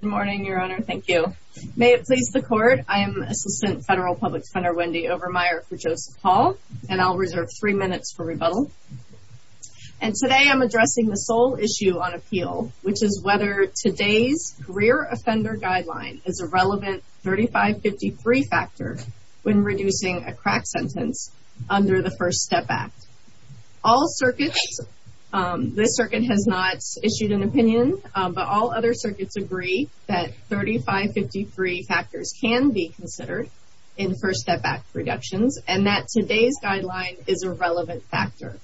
Good morning, Your Honor. Thank you. May it please the Court, I am Assistant Federal Public Defender Wendy Overmeyer for Joseph Hall and I'll reserve three minutes for rebuttal. And today I'm addressing the sole issue on appeal, which is whether today's career offender guideline is a relevant 3553 factor when reducing a crack sentence under the First Step Act. All circuits, this circuit has not issued an opinion, but all other circuits agree that 3553 factors can be considered in First Step Act reductions and that today's guideline is a relevant factor.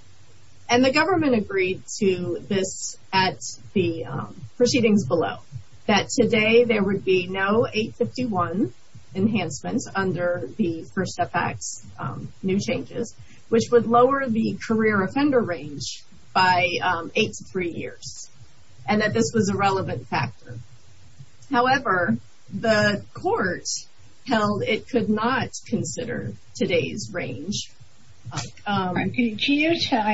And the government agreed to this at the proceedings below, that today there would be no 851 enhancements under the First Step Act's new changes, which would lower the career offender range by eight to three years and that this was a relevant factor. However, the court held it could not consider today's range. Can you tell,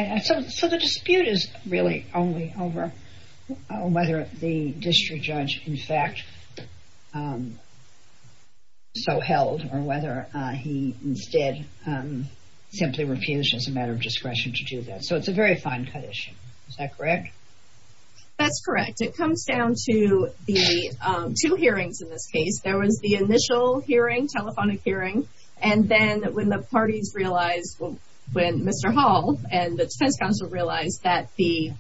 so the dispute is really only over whether the district judge in a matter of discretion to do that. So it's a very fine cut issue. Is that correct? That's correct. It comes down to the two hearings in this case. There was the initial hearing, telephonic hearing, and then when the parties realized, when Mr. Hall and the defense counsel realized that the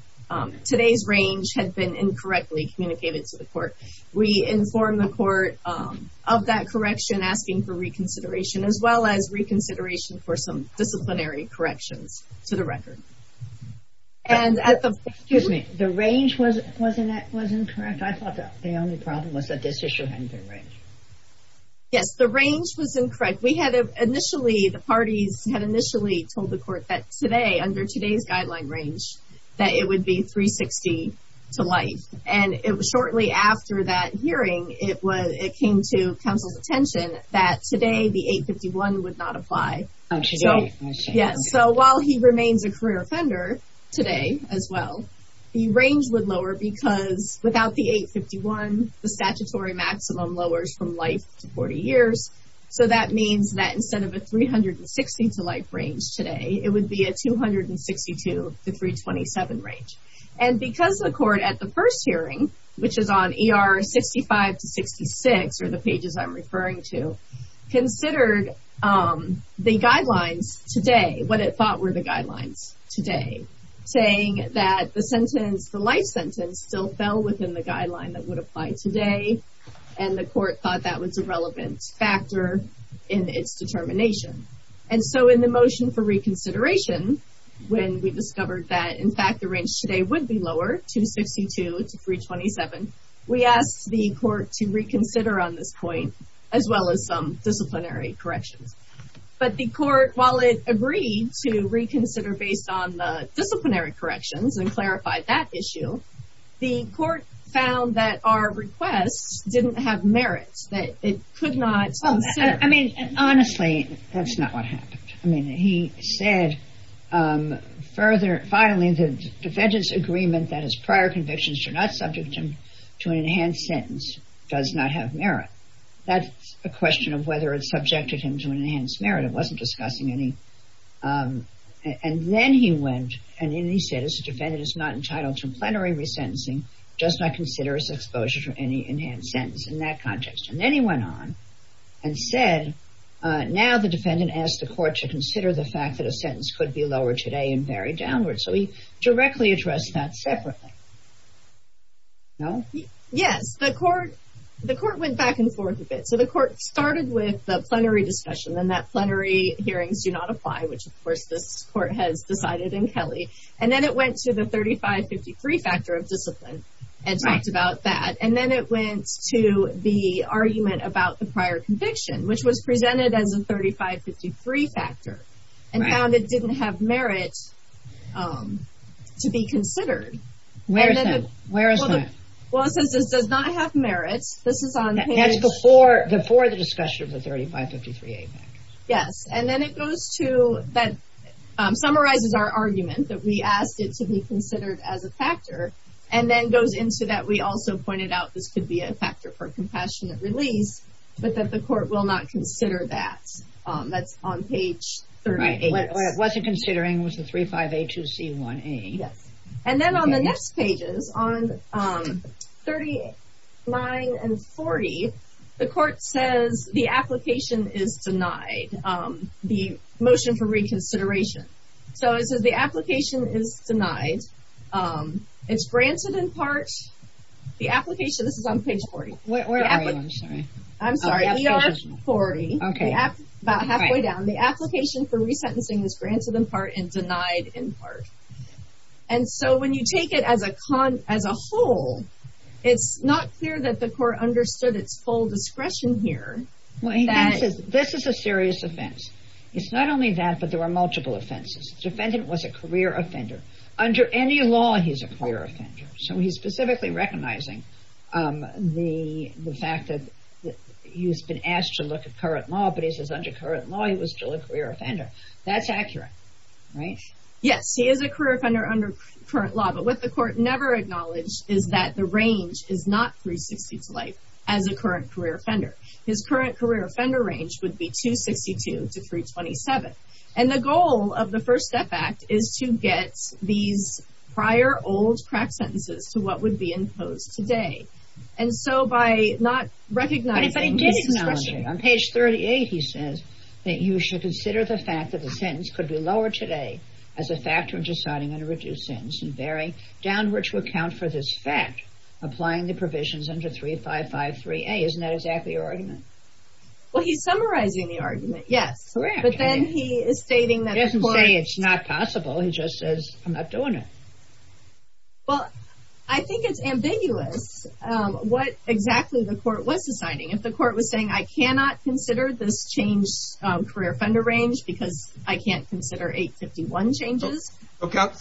today's range had been incorrectly communicated to the court, we informed the court of that correction, asking for reconsideration as well as reconsideration for some disciplinary corrections to the record. Excuse me, the range was incorrect? I thought the only problem was that this issue hadn't been arranged. Yes, the range was incorrect. We had initially, the parties had initially told the court that today, under today's guideline range, that it would be 360 to life. And it was shortly after that hearing, it came to counsel's attention that today the 851 would not be considered. So while he remains a career offender today as well, the range would lower because without the 851, the statutory maximum lowers from life to 40 years. So that means that instead of a 360 to life range today, it would be a 262 to 327 range. And because the court at the first hearing, which is on ER 65 to 66, or the pages I'm referring to, considered the guidelines today, what it thought were the guidelines today, saying that the sentence, the life sentence, still fell within the guideline that would apply today. And the court thought that was a relevant factor in its determination. And so in the motion for reconsideration, when we discovered that in fact the range today would be lower, 262 to 327, we asked the court to reconsider on this point, as well as some disciplinary corrections. But the court, while it agreed to reconsider based on the disciplinary corrections and clarified that issue, the court found that our requests didn't have merit, that it could not... I mean, honestly, that's not what happened. I mean, he said, further, finally, the defendant's agreement that his prior convictions do not subject him to an enhanced sentence does not have merit. That's a question of whether it subjected him to an enhanced merit. It wasn't discussing any. And then he went and he said, as a defendant is not entitled to plenary resentencing, does not consider his exposure to any enhanced sentence in that context. And then he went on and said, now the defendant asked the court to consider the fact that a sentence could be lower today and very downward. So he directly addressed that separately. No? Yes, the court, the court went back and forth a bit. So the court started with the plenary discussion and that plenary hearings do not apply, which of course this court has decided in Kelly. And then it went to the 35-53 factor of discipline and talked about that. And then it went to the argument about the and found it didn't have merit to be considered. Where is that? Where is that? Well, it says this does not have merit. This is on. That's before the before the discussion of the 35-53A. Yes. And then it goes to that summarizes our argument that we asked it to be considered as a factor. And then goes into that. We also pointed out this could be a factor for compassionate release, but that the court will not consider that. That's on page 38. It wasn't considering was the 35A, 2C, 1A. Yes. And then on the next pages, on 39 and 40, the court says the application is denied the motion for reconsideration. So it says the application is denied. It's granted in part the application. This is on page 40. Where are you? I'm sorry. I'm sorry. We are 40. OK. About halfway down the application for resentencing is granted in part and denied in part. And so when you take it as a con as a whole, it's not clear that the court understood its full discretion here. Well, this is a serious offense. It's not only that, but there are multiple offenses. The defendant was a career offender under any law. He's a career offender. So he's specifically recognizing the the fact that he's been asked to look at current law, but he says under current law, he was still a career offender. That's accurate, right? Yes, he is a career offender under current law. But what the court never acknowledged is that the range is not 360 to life as a current career offender. His current career offender range would be 262 to 327. And the goal of the First Step Act is to get these prior old cracked sentences to what would be imposed today. And so by not recognizing... But he did acknowledge it. On page 38, he says that you should consider the fact that the sentence could be lowered today as a factor in deciding on a reduced sentence and bearing downward to account for this fact, applying the provisions under 3553A. Isn't that exactly your argument? Well, he's summarizing the argument. Yes, correct. But then he is stating that... He doesn't say it's not possible. He just says, I'm not doing it. Well, I think it's ambiguous what exactly the court was deciding. If the court was saying, I cannot consider this change of career offender range because I can't consider 851 changes.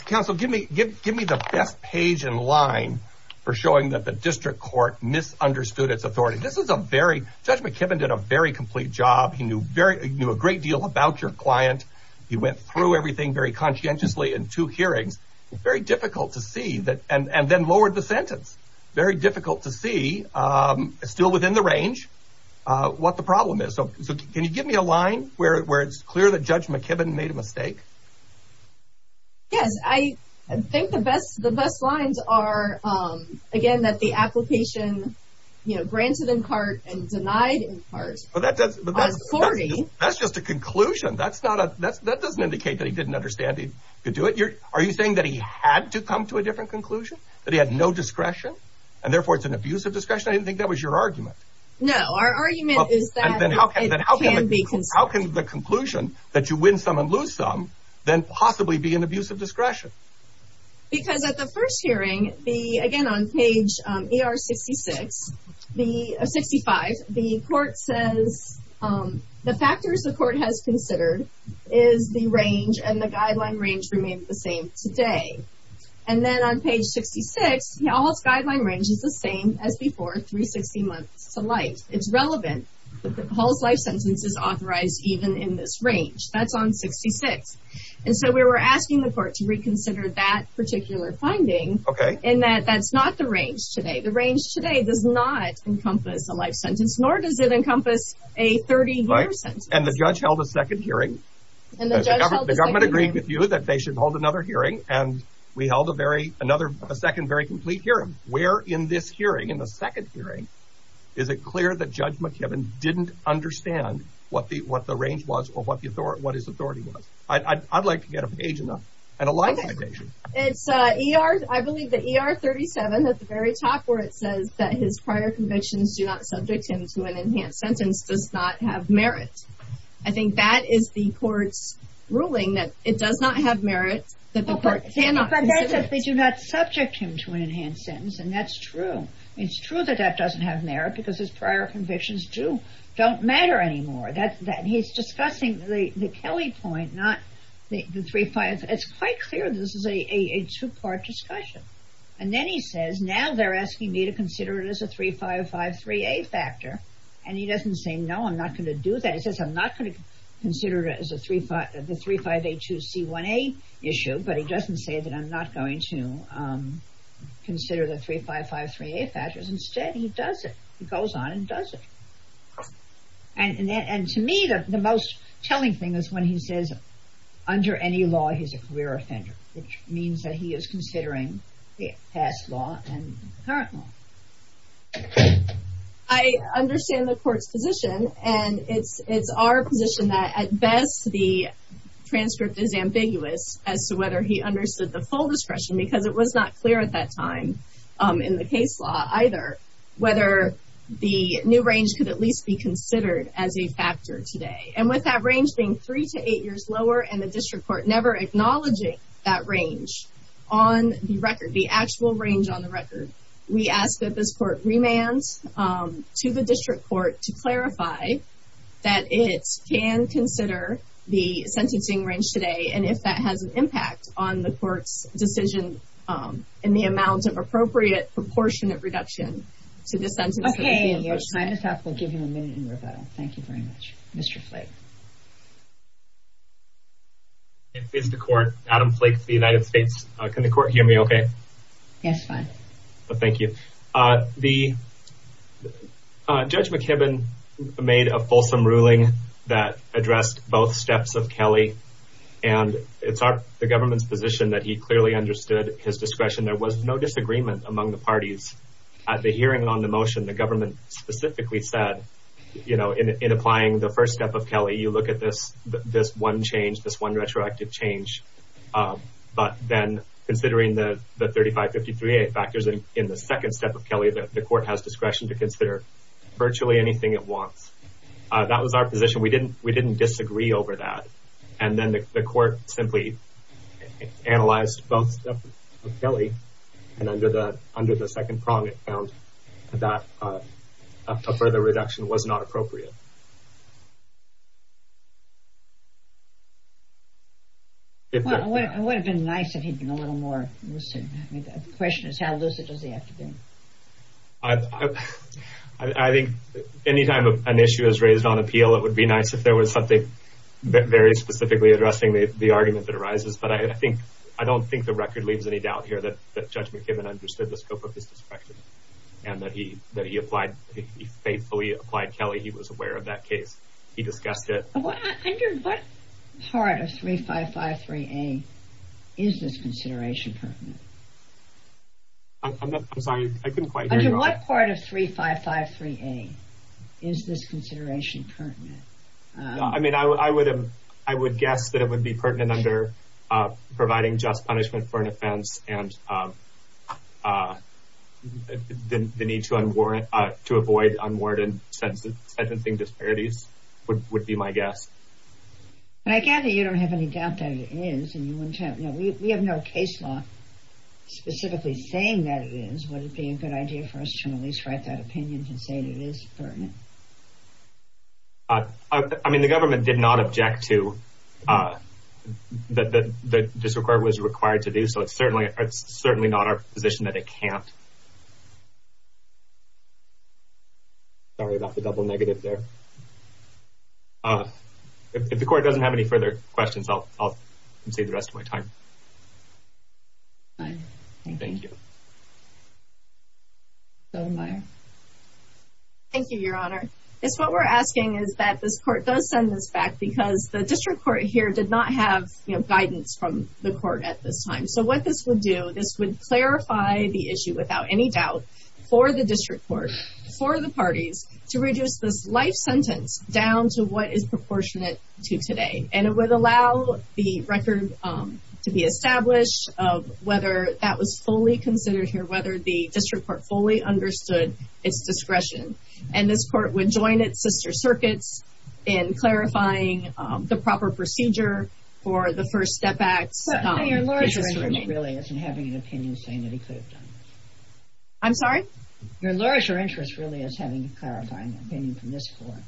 Counsel, give me the best page in line for showing that the district court misunderstood its authority. This is a very... Judge McKibben did a very complete job. He knew a great deal about your client. He went through everything very conscientiously in two hearings. It's very difficult to see that and then lowered the sentence. Very difficult to see still within the range what the problem is. So can you give me a line where it's clear that Judge McKibben made a mistake? Yes, I think the best the best lines are, again, that the application, you know, granted in part and denied in part. But that's just a conclusion. That's not a that's that doesn't indicate that he didn't understand he could do it. Are you saying that he had to come to a different conclusion, that he had no discretion and therefore it's an abuse of discretion? I didn't think that was your argument. No, our argument is that it can be considered. How can the conclusion that you win some and lose some then possibly be an abuse of discretion? Because at the first hearing, the again on page ER 66, the 65, the court says the factors the court has considered is the range and the same today. And then on page 66, Hall's guideline range is the same as before. 360 months to life. It's relevant that Hall's life sentence is authorized even in this range. That's on 66. And so we were asking the court to reconsider that particular finding in that that's not the range today. The range today does not encompass a life sentence, nor does it encompass a 30 year sentence. And the judge held a second hearing and the government agreed with you that they should hold another hearing. And we held a very another second, very complete hearing. Where in this hearing, in the second hearing, is it clear that Judge McKibben didn't understand what the what the range was or what the what his authority was? I'd like to get a page and a life citation. It's ER, I believe the ER 37 at the very top where it says that his prior convictions do not subject him to an enhanced sentence does not have merit. I think that is the court's ruling that it does not have merit that the court cannot. They do not subject him to an enhanced sentence. And that's true. It's true that that doesn't have merit because his prior convictions do don't matter anymore. That that he's discussing the Kelly point, not the three five. It's quite clear this is a two part discussion. And then he says now they're asking me to consider it as a three five five three eight factor. And he doesn't say, no, I'm not going to do that. He says, I'm not going to consider it as a three five, the three five, a two C one eight issue. But he doesn't say that I'm not going to consider the three five five three eight factors. Instead, he does it. He goes on and does it. And to me, the most telling thing is when he says under any law, he's a career offender, which means that he is considering the past law and current law. I understand the court's position, and it's it's our position that at best, the transcript is ambiguous as to whether he understood the full discretion because it was not clear at that time in the case law either whether the new range could at least be considered as a factor today. And with that range being three to eight years lower and the district court never acknowledging that range on the record, the actual range on the record, we ask that this court remand to the district court to clarify that it can consider the sentencing range today. And if that has an impact on the court's decision in the amount of appropriate proportionate reduction to the sentence. OK, your time is up. We'll give you a minute in rebuttal. Thank you very much, Mr. Flake. It's the court, Adam Flake for the United States. Can the court hear me OK? Yes, fine. Thank you. The Judge McKibben made a fulsome ruling that addressed both steps of Kelly and it's the government's position that he clearly understood his discretion. There was no disagreement among the parties at the hearing on the motion. The government specifically said, you know, in applying the first step of Kelly, you look at this, this one change, this one retroactive change. But then considering the 3553A factors in the second step of Kelly, the court has discretion to consider virtually anything it wants. That was our position. We didn't disagree over that. And then the court simply analyzed both steps of Kelly and under the second prong, it found that a further reduction was not appropriate. Well, it would have been nice if he'd been a little more lucid. I mean, the question is, how lucid does he have to be? I think any time an issue is raised on appeal, it would be nice if there was something very specifically addressing the argument that arises. But I think I don't think the record leaves any doubt here that Judge McKibben understood the scope of his discretion and that he that he applied, he faithfully applied Kelly. He was aware of that case. He discussed it. Under what part of 3553A is this consideration pertinent? I'm sorry, I couldn't quite hear you. Under what part of 3553A is this consideration pertinent? I mean, I would have, I would guess that it would be pertinent under providing just sentencing disparities would be my guess. But I gather you don't have any doubt that it is and you wouldn't have, you know, we have no case law specifically saying that it is. Would it be a good idea for us to at least write that opinion and say it is pertinent? I mean, the government did not object to that the district court was required to do so. It's certainly it's certainly not our position that it can't. I'm sorry about the double negative there. If the court doesn't have any further questions, I'll save the rest of my time. Thank you. Thank you, Your Honor. It's what we're asking is that this court does send this back because the district court here did not have guidance from the court at this time. So what this would do, this would clarify the issue without any doubt for the district court, for the parties to reduce this life sentence down to what is proportionate to today. And it would allow the record to be established of whether that was fully considered here, whether the district court fully understood its discretion. And this court would join its sister circuits in clarifying the proper procedure for the district court. Your interest really isn't having an opinion saying that he could have done this. I'm sorry? Your interest really is having a clarifying opinion from this court.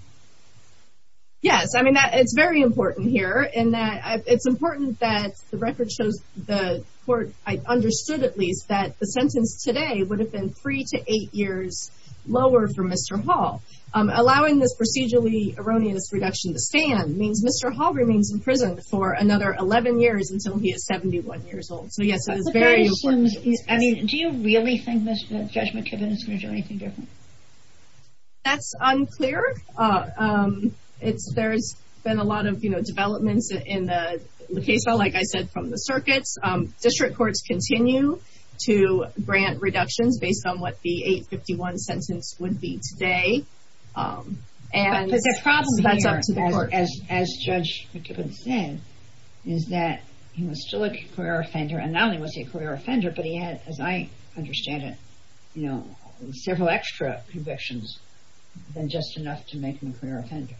Yes, I mean, it's very important here in that it's important that the record shows the court understood at least that the sentence today would have been three to eight years lower for Mr. Hall. Allowing this procedurally erroneous reduction to stand means Mr. Hall remains in prison for another 11 years until he is 71 years old. So, yes, it is very important. I mean, do you really think that Judge McKibbin is going to do anything different? That's unclear. It's there's been a lot of, you know, developments in the case, though, like I said, from the circuits, district courts continue to grant reductions based on what the 851 sentence would be today. And the problem here, as Judge McKibbin said, is that he was still a career offender and not only was he a career offender, but he had, as I understand it, you know, several extra convictions than just enough to make him a career offender.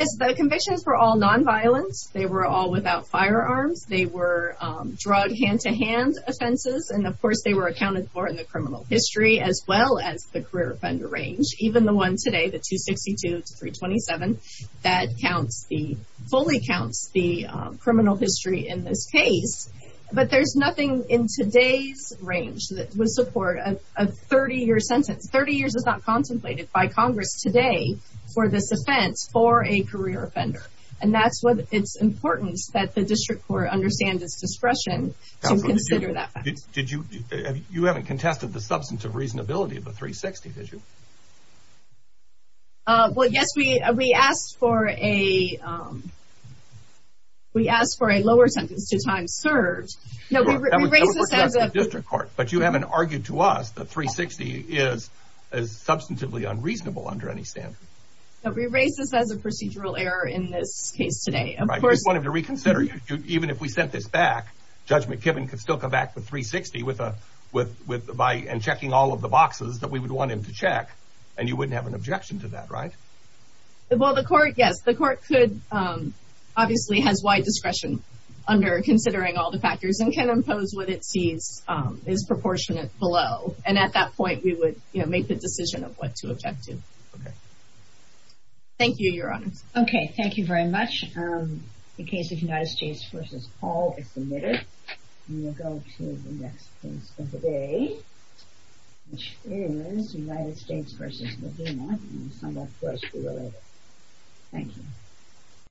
Yes, the convictions were all nonviolence. They were all without firearms. They were drug hand-to-hand offenses. And of course, they were accounted for in the criminal history as well as the career offender range, even the one today, the 262 to 327, that counts the fully counts the criminal history in this case. But there's nothing in today's range that would support a 30 year sentence. 30 years is not contemplated by Congress today for this offense for a career offender. And that's why it's important that the district court understand its discretion to consider that. Did you you haven't contested the substance of reasonability of the 360, did you? Well, yes, we we asked for a. We asked for a lower sentence to time served. No, we raised this as a district court, but you haven't argued to us that 360 is as substantively unreasonable under any standard. No, we raised this as a procedural error in this case today. And I just wanted to reconsider. Even if we sent this back, Judge McKibben could still go back to 360 with a with by and checking all of the boxes that we would want him to check. And you wouldn't have an objection to that, right? Well, the court, yes, the court could obviously has wide discretion under considering all the factors and can impose what it sees is proportionate below. And at that point, we would make the decision of what to object to. Thank you, Your Honor. OK, thank you very much. The case of United States versus Paul is submitted. We will go to the next case of the day, which is United States versus Mohamed and somewhat closely related. Thank you.